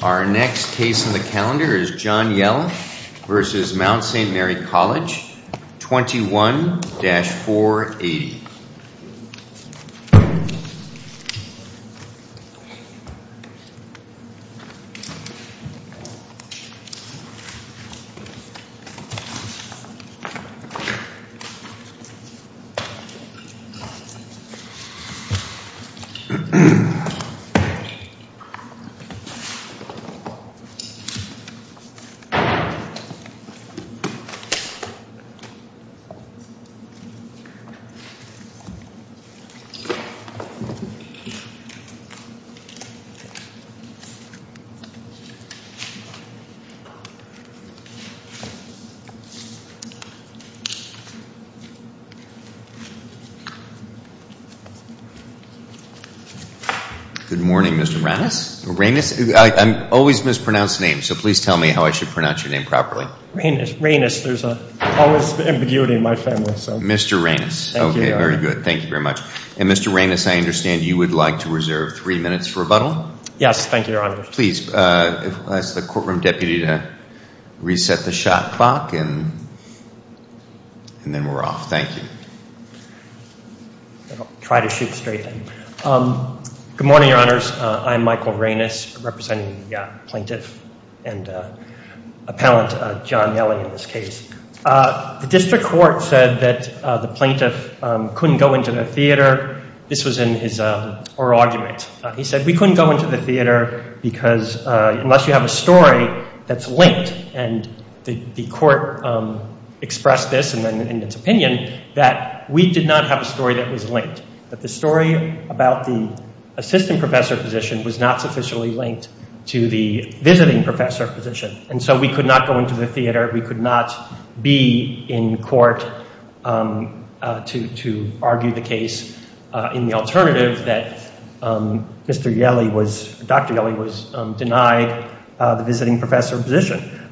Our next case on the calendar is John Yelle v. Mount Saint Mary College, 21-480. John Yelle v. Mount Saint Mary College, 21-480. I always mispronounce names, so please tell me how I should pronounce your name properly. Reynos. There's always ambiguity in my family. Mr. Reynos. Thank you, Your Honor. Okay, very good. Thank you very much. And Mr. Reynos, I understand you would like to reserve three minutes for rebuttal? Yes, thank you, Your Honor. Please, I'll ask the courtroom deputy to reset the shot clock, and then we're off. Thank you. I'll try to shoot straight then. Good morning, Your Honors. I'm Michael Reynos, representing the plaintiff and appellant John Yelle in this case. The district court said that the plaintiff couldn't go into the theater. This was in his oral argument. He said, we couldn't go into the theater because unless you have a story that's linked, and the court expressed this in its opinion that we did not have a story that was linked, that the story about the assistant professor position was not sufficiently linked to the visiting professor position. And so we could not go into the theater. We could not be in court to argue the case in the alternative that Mr. Yelle was, Dr. Yelle was denied the visiting professor position,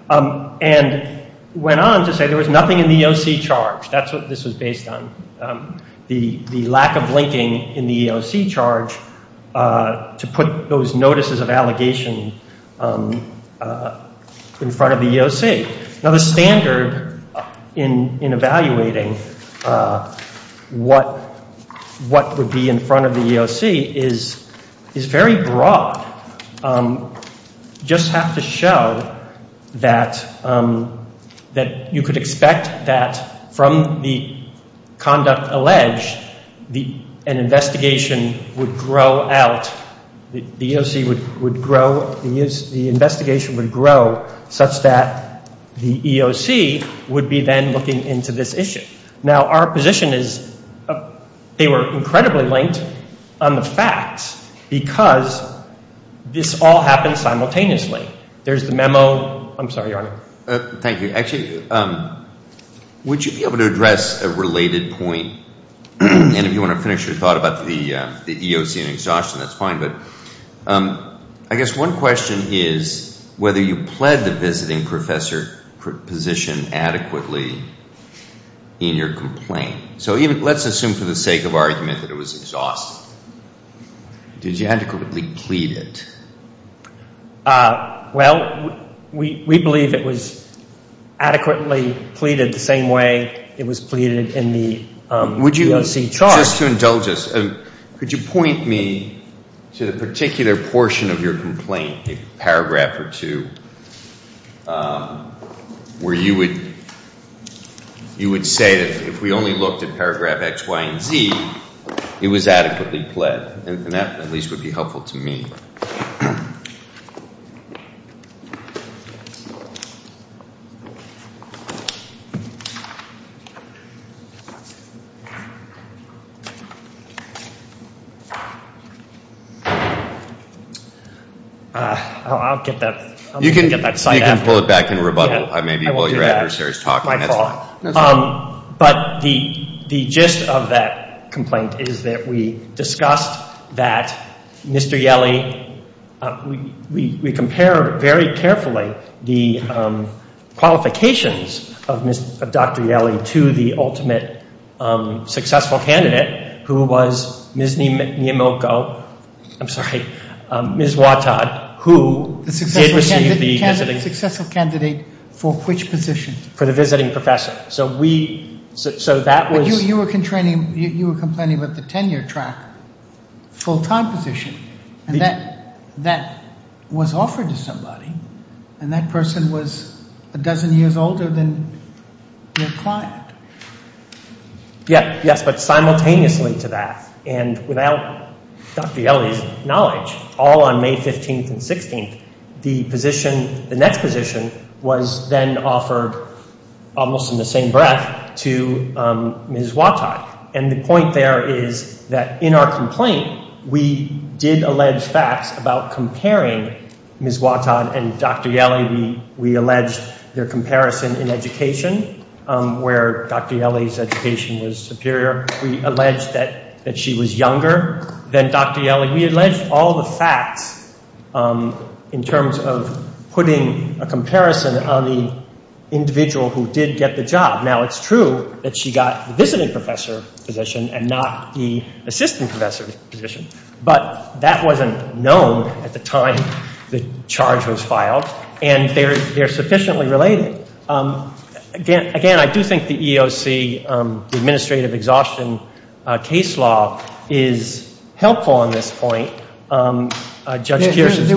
and went on to say there was nothing in the EOC charged. That's what this was based on, the lack of linking in the EOC charge to put those notices of allegation in front of the EOC. Now, the standard in evaluating what would be in front of the EOC is very broad. You just have to show that you could expect that from the conduct alleged, an investigation would grow out, the EOC would grow, the investigation would grow such that the EOC would be then looking into this issue. Now, our position is they were incredibly linked on the facts because this all happened simultaneously. There's the memo. I'm sorry, Your Honor. Thank you. Actually, would you be able to address a related point? And if you want to finish your thought about the EOC and exhaustion, that's fine. I guess one question is whether you pled the visiting professor position adequately in your complaint. So let's assume for the sake of argument that it was exhausted. Did you adequately plead it? Well, we believe it was adequately pleaded the same way it was pleaded in the EOC charge. Just to indulge us, could you point me to the particular portion of your complaint, a paragraph or two, where you would say that if we only looked at paragraph X, Y, and Z, it was adequately pled? And that at least would be helpful to me. I'll get that. You can pull it back in rebuttal maybe while your adversary is talking. But the gist of that complaint is that we discussed that Mr. Yelley, we compared very carefully the qualifications of Dr. Yelley to the ultimate successful candidate, who was Ms. Miyamoko, I'm sorry, Ms. Wattad, who did receive the visiting. The successful candidate for which position? For the visiting professor. But you were complaining about the tenure track full-time position. And that was offered to somebody, and that person was a dozen years older than your client. Yes, but simultaneously to that. And without Dr. Yelley's knowledge, all on May 15th and 16th, the next position was then offered almost in the same breath to Ms. Wattad. And the point there is that in our complaint, we did allege facts about comparing Ms. Wattad and Dr. Yelley. We alleged their comparison in education, where Dr. Yelley's education was superior. We alleged that she was younger than Dr. Yelley. We alleged all the facts in terms of putting a comparison on the individual who did get the job. Now, it's true that she got the visiting professor position and not the assistant professor position, but that wasn't known at the time the charge was filed, and they're sufficiently related. Again, I do think the EEOC, the administrative exhaustion case law, is helpful on this point. There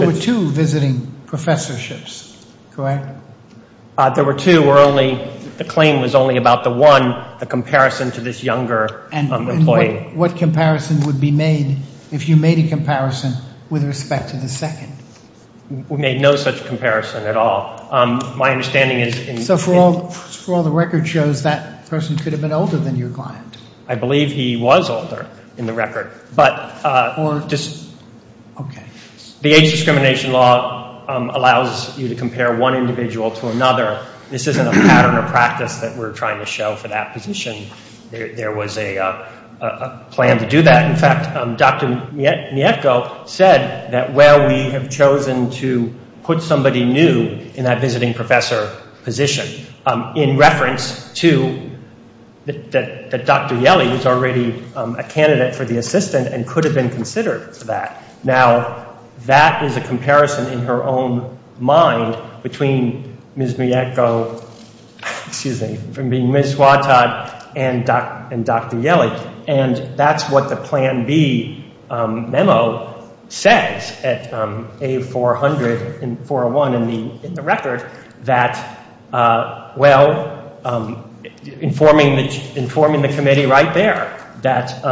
were two visiting professorships, correct? There were two where the claim was only about the one, the comparison to this younger employee. And what comparison would be made if you made a comparison with respect to the second? We made no such comparison at all. So for all the record shows, that person could have been older than your client? I believe he was older in the record. But the age discrimination law allows you to compare one individual to another. This isn't a pattern of practice that we're trying to show for that position. There was a plan to do that. In fact, Dr. Mietko said that, well, we have chosen to put somebody new in that visiting professor position in reference to that Dr. Yelley was already a candidate for the assistant and could have been considered for that. Now, that is a comparison in her own mind between Ms. Mietko, excuse me, from being Ms. Wattad and Dr. Yelley. And that's what the Plan B memo says at A400 and 401 in the record, that, well, informing the committee right there that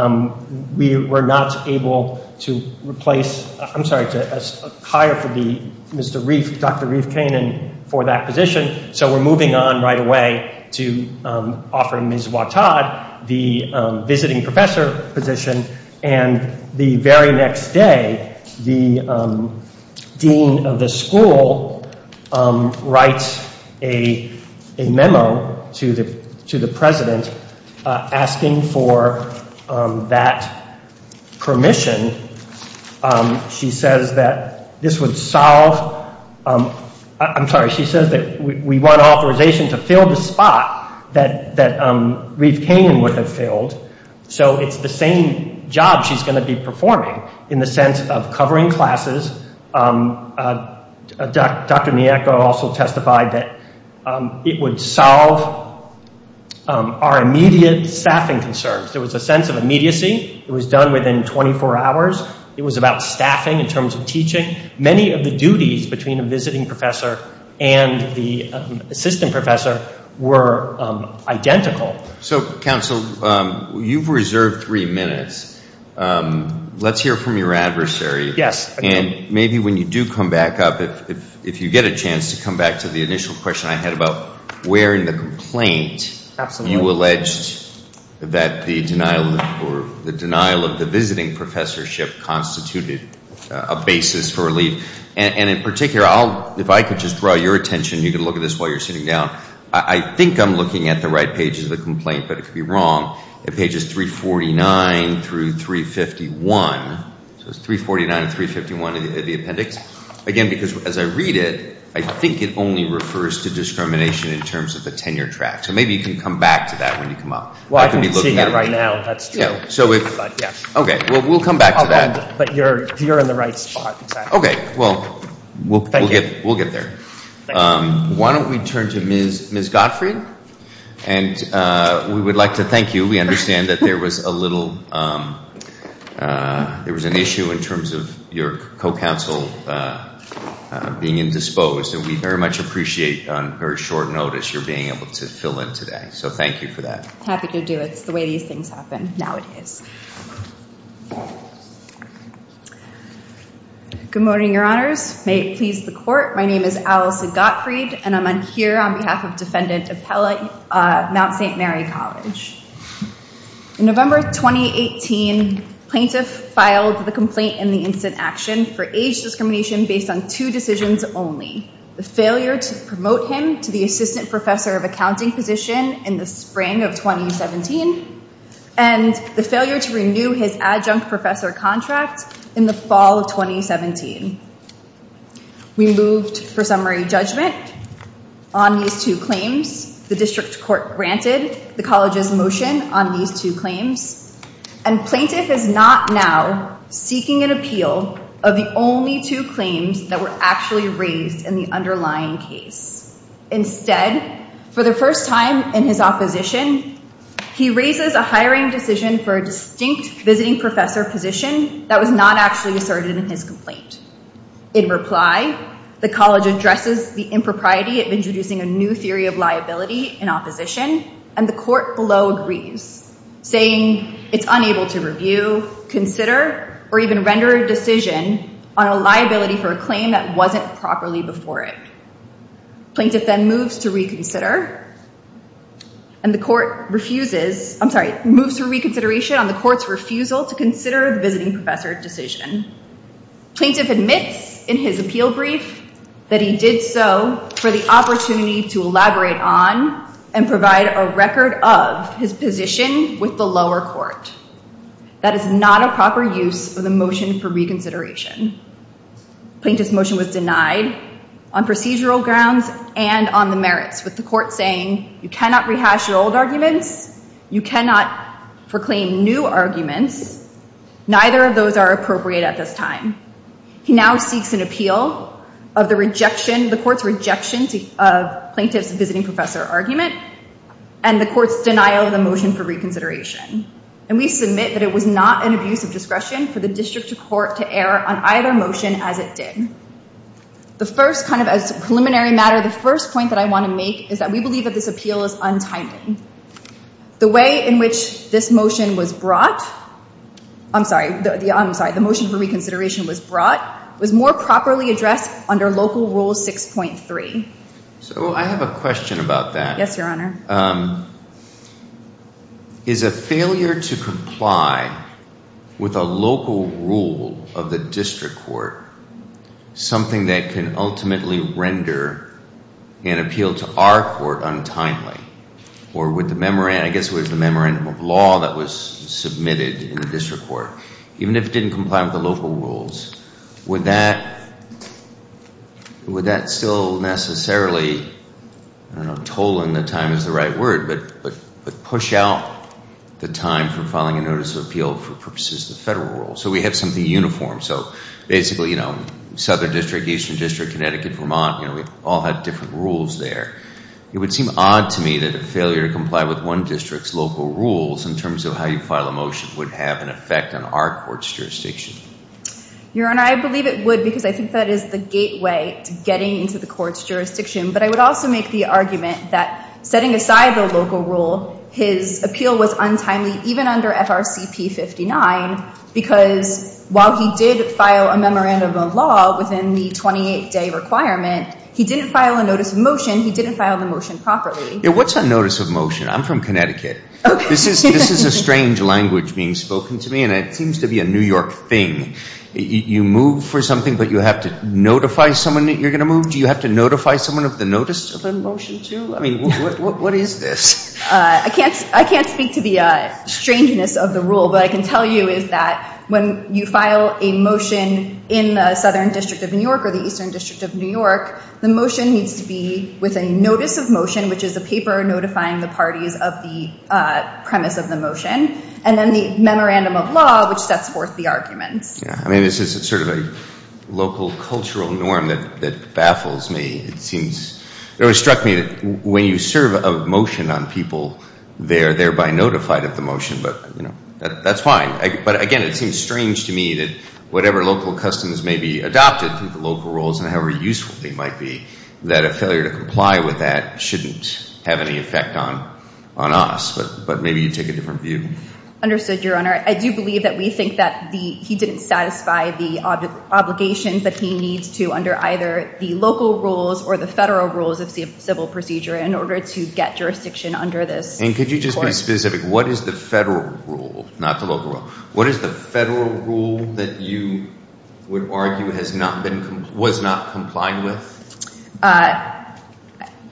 we were not able to replace, I'm sorry, to hire for the Mr. Reif, Dr. Reif Kanin for that position. So we're moving on right away to offering Ms. Wattad the visiting professor position. And the very next day, the dean of the school writes a memo to the president asking for that permission. She says that this would solve, I'm sorry, she says that we want authorization to fill the spot that Reif Kanin would have filled. So it's the same job she's going to be performing in the sense of covering classes. Dr. Mietko also testified that it would solve our immediate staffing concerns. There was a sense of immediacy. It was done within 24 hours. It was about staffing in terms of teaching. Many of the duties between a visiting professor and the assistant professor were identical. So, counsel, you've reserved three minutes. Let's hear from your adversary. Yes. And maybe when you do come back up, if you get a chance to come back to the initial question I had about where in the complaint you alleged that the denial of the visiting professorship constituted a basis for relief. And in particular, if I could just draw your attention, you can look at this while you're sitting down, I think I'm looking at the right page of the complaint, but it could be wrong. It pages 349 through 351. So it's 349 and 351 in the appendix. Again, because as I read it, I think it only refers to discrimination in terms of the tenure track. So maybe you can come back to that when you come up. Well, I can see that right now. Okay. We'll come back to that. But you're in the right spot. Okay. Well, we'll get there. Why don't we turn to Ms. Gottfried? And we would like to thank you. We understand that there was an issue in terms of your co-counsel being indisposed. And we very much appreciate, on very short notice, your being able to fill in today. So thank you for that. Happy to do it. It's the way these things happen nowadays. Good morning, Your Honors. May it please the Court. My name is Allison Gottfried, and I'm here on behalf of Defendant Appellate, Mount St. Mary College. In November 2018, plaintiff filed the complaint in the instant action for age discrimination based on two decisions only. The failure to promote him to the assistant professor of accounting position in the spring of 2017, and the failure to renew his adjunct professor contract in the fall of 2017. We moved for summary judgment on these two claims. The district court granted the college's motion on these two claims. And plaintiff is not now seeking an appeal of the only two claims that were actually raised in the underlying case. Instead, for the first time in his opposition, he raises a hiring decision for a distinct visiting professor position that was not actually asserted in his complaint. In reply, the college addresses the impropriety of introducing a new theory of liability in opposition, and the court below agrees, saying it's unable to review, consider, or even render a decision on a liability for a claim that wasn't properly before it. Plaintiff then moves to reconsider. And the court refuses, I'm sorry, moves to reconsideration on the court's refusal to consider the visiting professor decision. Plaintiff admits in his appeal brief that he did so for the opportunity to elaborate on and provide a record of his position with the lower court. That is not a proper use of the motion for reconsideration. Plaintiff's motion was denied on procedural grounds and on the merits, with the court saying, you cannot rehash your old arguments. You cannot proclaim new arguments. Neither of those are appropriate at this time. He now seeks an appeal of the court's rejection of plaintiff's visiting professor argument and the court's denial of the motion for reconsideration. And we submit that it was not an abuse of discretion for the district court to err on either motion as it did. The first, kind of as a preliminary matter, the first point that I want to make is that we believe that this appeal is untimely. The way in which this motion was brought, I'm sorry, the motion for reconsideration was brought, was more properly addressed under Local Rule 6.3. So I have a question about that. Yes, Your Honor. Is a failure to comply with a local rule of the district court something that can ultimately render an appeal to our court untimely? Or with the memorandum, I guess it was the memorandum of law that was submitted in the district court. Even if it didn't comply with the local rules, would that still necessarily, I don't know, tolling the time is the right word, but push out the time for filing a notice of appeal for purposes of the federal rules? So we have something uniform. So basically, you know, Southern District, Eastern District, Connecticut, Vermont, you know, we all have different rules there. It would seem odd to me that a failure to comply with one district's local rules in terms of how you file a motion would have an effect on our court's jurisdiction. Your Honor, I believe it would because I think that is the gateway to getting into the court's jurisdiction. But I would also make the argument that setting aside the local rule, his appeal was untimely, even under FRCP 59, because while he did file a memorandum of law within the 28-day requirement, he didn't file a notice of motion, he didn't file the motion properly. What's a notice of motion? I'm from Connecticut. This is a strange language being spoken to me, and it seems to be a New York thing. You move for something, but you have to notify someone that you're going to move? Do you have to notify someone of the notice of a motion, too? I mean, what is this? I can't speak to the strangeness of the rule, but I can tell you is that when you file a motion in the Southern District of New York or the Eastern District of New York, the motion needs to be with a notice of motion, which is a paper notifying the parties of the premise of the motion, and then the memorandum of law, which sets forth the arguments. Yeah. I mean, this is sort of a local cultural norm that baffles me. It always struck me that when you serve a motion on people, they are thereby notified of the motion. But, you know, that's fine. But, again, it seems strange to me that whatever local customs may be adopted through the local rules and however useful they might be, that a failure to comply with that shouldn't have any effect on us. But maybe you take a different view. Understood, Your Honor. I do believe that we think that he didn't satisfy the obligation, but he needs to under either the local rules or the federal rules of civil procedure in order to get jurisdiction under this. And could you just be specific? What is the federal rule? Not the local rule. What is the federal rule that you would argue was not complied with?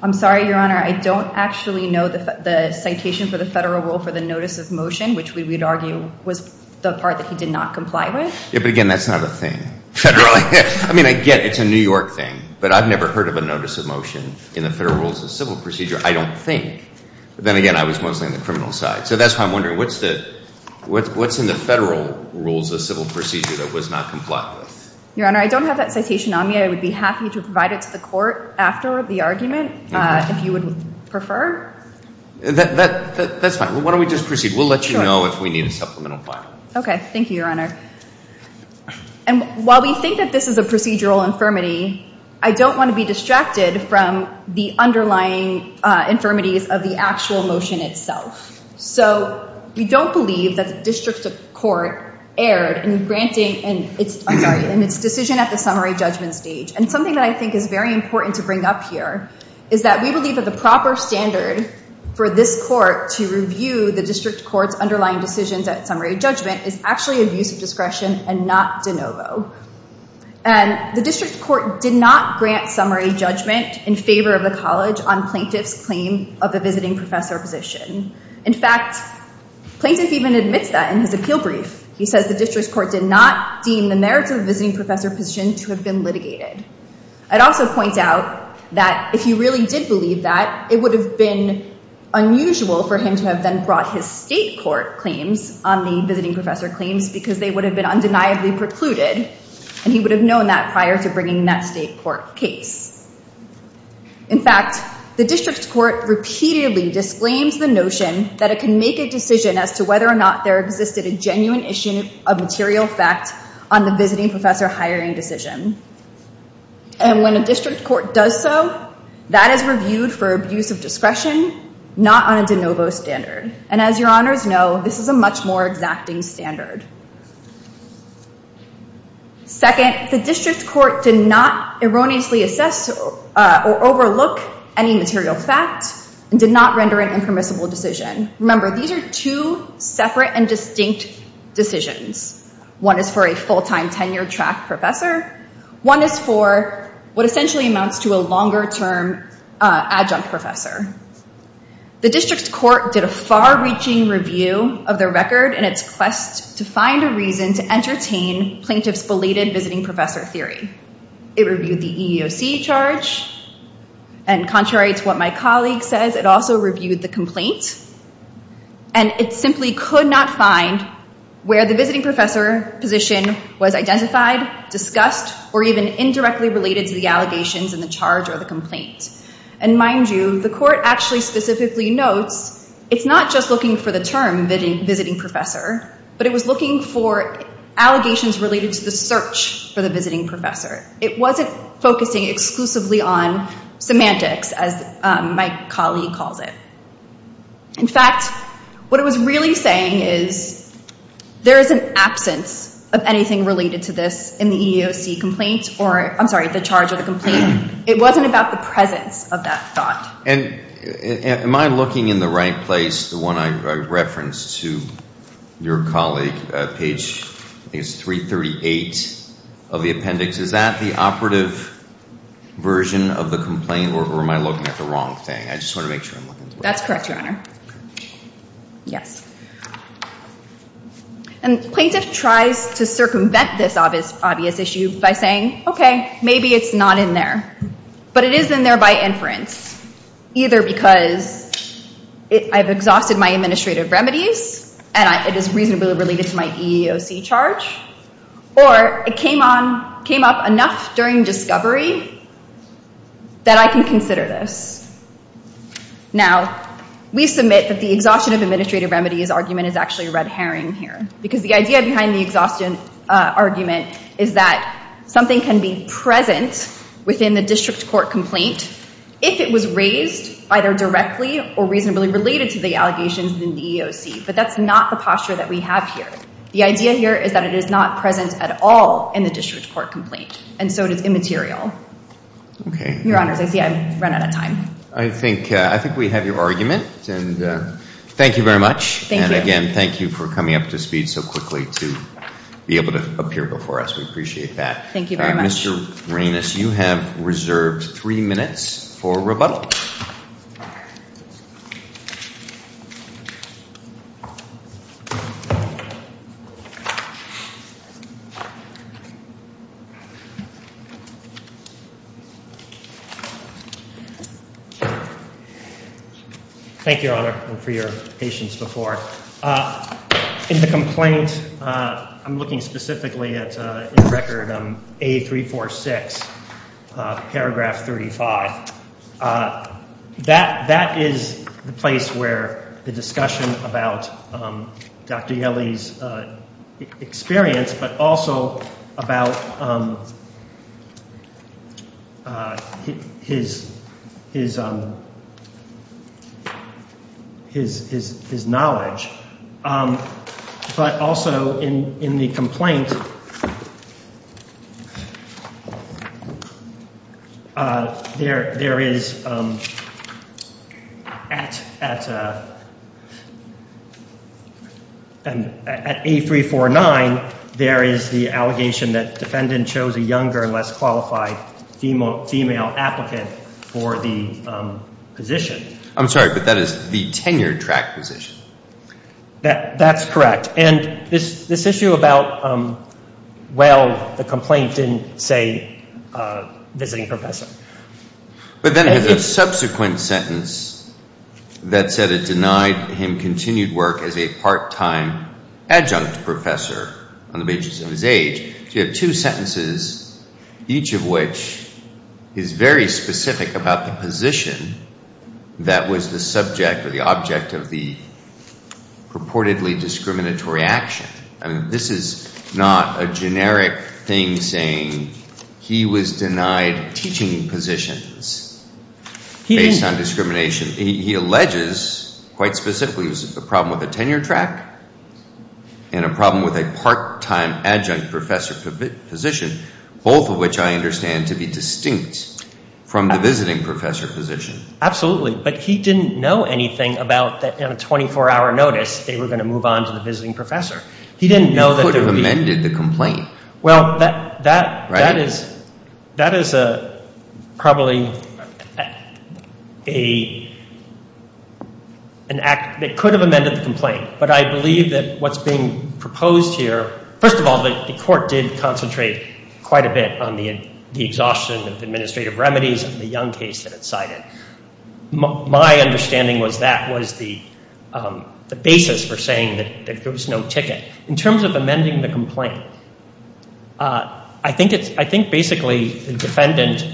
I'm sorry, Your Honor. I don't actually know the citation for the federal rule for the notice of motion, which we would argue was the part that he did not comply with. Yeah, but, again, that's not a thing. I mean, again, it's a New York thing. But I've never heard of a notice of motion in the federal rules of civil procedure, I don't think. But then again, I was mostly on the criminal side. So that's why I'm wondering, what's in the federal rules of civil procedure that was not complied with? Your Honor, I don't have that citation on me. I would be happy to provide it to the court after the argument if you would prefer. That's fine. Why don't we just proceed? We'll let you know if we need a supplemental file. Okay. Thank you, Your Honor. And while we think that this is a procedural infirmity, I don't want to be distracted from the underlying infirmities of the actual motion itself. So we don't believe that the district court erred in granting its decision at the summary judgment stage. And something that I think is very important to bring up here is that we believe that the proper standard for this court to review the district court's underlying decisions at summary judgment is actually abuse of discretion and not de novo. And the district court did not grant summary judgment in favor of the college on plaintiff's claim of a visiting professor position. In fact, plaintiff even admits that in his appeal brief. He says the district court did not deem the merits of a visiting professor position to have been litigated. I'd also point out that if you really did believe that, it would have been unusual for him to have then brought his state court claims on the visiting professor claims because they would have been undeniably precluded. And he would have known that prior to bringing that state court case. In fact, the district court repeatedly disclaims the notion that it can make a decision as to whether or not there existed a genuine issue of material fact on the visiting professor hiring decision. And when a district court does so, that is reviewed for abuse of discretion, not on a de novo standard. And as your honors know, this is a much more exacting standard. Second, the district court did not erroneously assess or overlook any material fact and did not render an impermissible decision. Remember, these are two separate and distinct decisions. One is for a full-time tenure-track professor. One is for what essentially amounts to a longer-term adjunct professor. The district court did a far-reaching review of their record in its quest to find a reason to entertain plaintiff's belated visiting professor theory. It reviewed the EEOC charge. And contrary to what my colleague says, it also reviewed the complaint. And it simply could not find where the visiting professor position was identified, discussed, or even indirectly related to the allegations in the charge or the complaint. And mind you, the court actually specifically notes it's not just looking for the term visiting professor, but it was looking for allegations related to the search for the visiting professor. It wasn't focusing exclusively on semantics, as my colleague calls it. In fact, what it was really saying is there is an absence of anything related to this in the EEOC complaint or, I'm sorry, the charge or the complaint. It wasn't about the presence of that thought. And am I looking in the right place, the one I referenced to your colleague? Page, I think it's 338 of the appendix. Is that the operative version of the complaint, or am I looking at the wrong thing? I just want to make sure I'm looking at the right thing. That's correct, Your Honor. Yes. And the plaintiff tries to circumvent this obvious issue by saying, okay, maybe it's not in there, but it is in there by inference, either because I've exhausted my administrative remedies and it is reasonably related to my EEOC charge, or it came up enough during discovery that I can consider this. Now, we submit that the exhaustion of administrative remedies argument is actually red herring here, because the idea behind the exhaustion argument is that something can be present within the district court complaint if it was raised either directly or reasonably related to the allegations in the EEOC. But that's not the posture that we have here. The idea here is that it is not present at all in the district court complaint, and so it is immaterial. Okay. Your Honors, I see I've run out of time. I think we have your argument, and thank you very much. Thank you. And again, thank you for coming up to speed so quickly to be able to appear before us. We appreciate that. Thank you very much. Mr. Raines, you have reserved three minutes for rebuttal. Thank you, Your Honor, and for your patience before. In the complaint, I'm looking specifically at Record A346, Paragraph 35. That is the place where the discussion about Dr. Yelley's experience, but also about his knowledge. But also in the complaint, there is at A349, there is the allegation that defendant chose a younger, less qualified female applicant for the position. I'm sorry, but that is the tenured track position. That's correct. And this issue about, well, the complaint didn't say visiting professor. But then there's a subsequent sentence that said it denied him continued work as a part-time adjunct professor on the basis of his age. So you have two sentences, each of which is very specific about the position that was the subject or the object of the purportedly discriminatory action. I mean, this is not a generic thing saying he was denied teaching positions based on discrimination. He alleges quite specifically it was a problem with the tenure track and a problem with a part-time adjunct professor position, both of which I understand to be distinct from the visiting professor position. Absolutely, but he didn't know anything about that in a 24-hour notice they were going to move on to the visiting professor. He didn't know that there would be— He could have amended the complaint. Well, that is probably an act that could have amended the complaint. But I believe that what's being proposed here—first of all, the court did concentrate quite a bit on the exhaustion of administrative remedies in the Young case that it cited. My understanding was that was the basis for saying that there was no ticket. In terms of amending the complaint, I think basically the defendant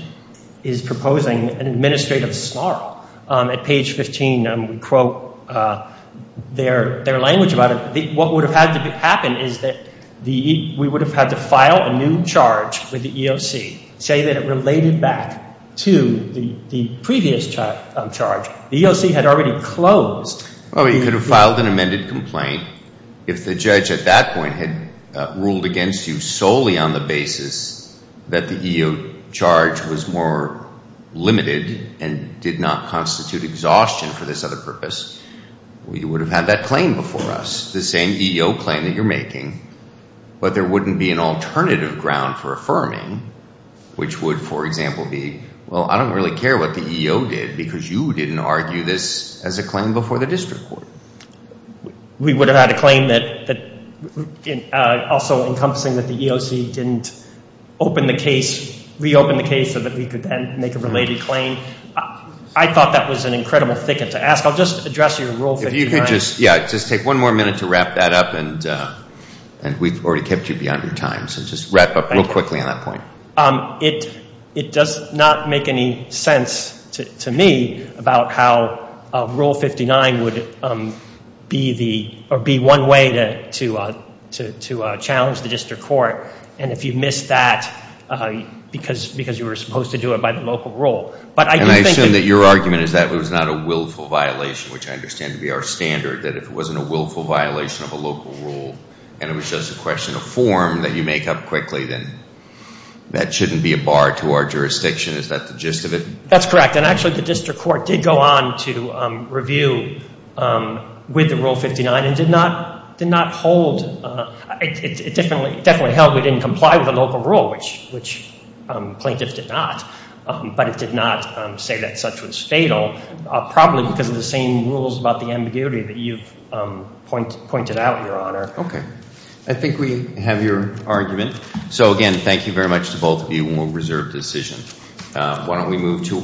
is proposing an administrative snarl. At page 15, we quote their language about it. What would have had to happen is that we would have had to file a new charge with the EOC, say that it related back to the previous charge. The EOC had already closed— You could have filed an amended complaint. If the judge at that point had ruled against you solely on the basis that the EEO charge was more limited and did not constitute exhaustion for this other purpose, you would have had that claim before us, the same EEO claim that you're making. But there wouldn't be an alternative ground for affirming, which would, for example, be, well, I don't really care what the EEO did because you didn't argue this as a claim before the district court. We would have had a claim that also encompassing that the EEOC didn't open the case—reopen the case so that we could then make a related claim. I thought that was an incredible thicket to ask. I'll just address your Rule 53. Yeah, just take one more minute to wrap that up, and we've already kept you beyond your time, so just wrap up real quickly on that point. It does not make any sense to me about how Rule 59 would be one way to challenge the district court, and if you missed that because you were supposed to do it by the local rule. And I assume that your argument is that it was not a willful violation, which I understand to be our standard, that if it wasn't a willful violation of a local rule and it was just a question of form that you make up quickly, then that shouldn't be a bar to our jurisdiction. Is that the gist of it? That's correct, and actually the district court did go on to review with the Rule 59 and did not hold—it definitely held we didn't comply with a local rule, which plaintiffs did not, but it did not say that such was fatal, probably because of the same rules about the ambiguity that you've pointed out, Your Honor. Okay. I think we have your argument. So, again, thank you very much to both of you, and we'll reserve the decision.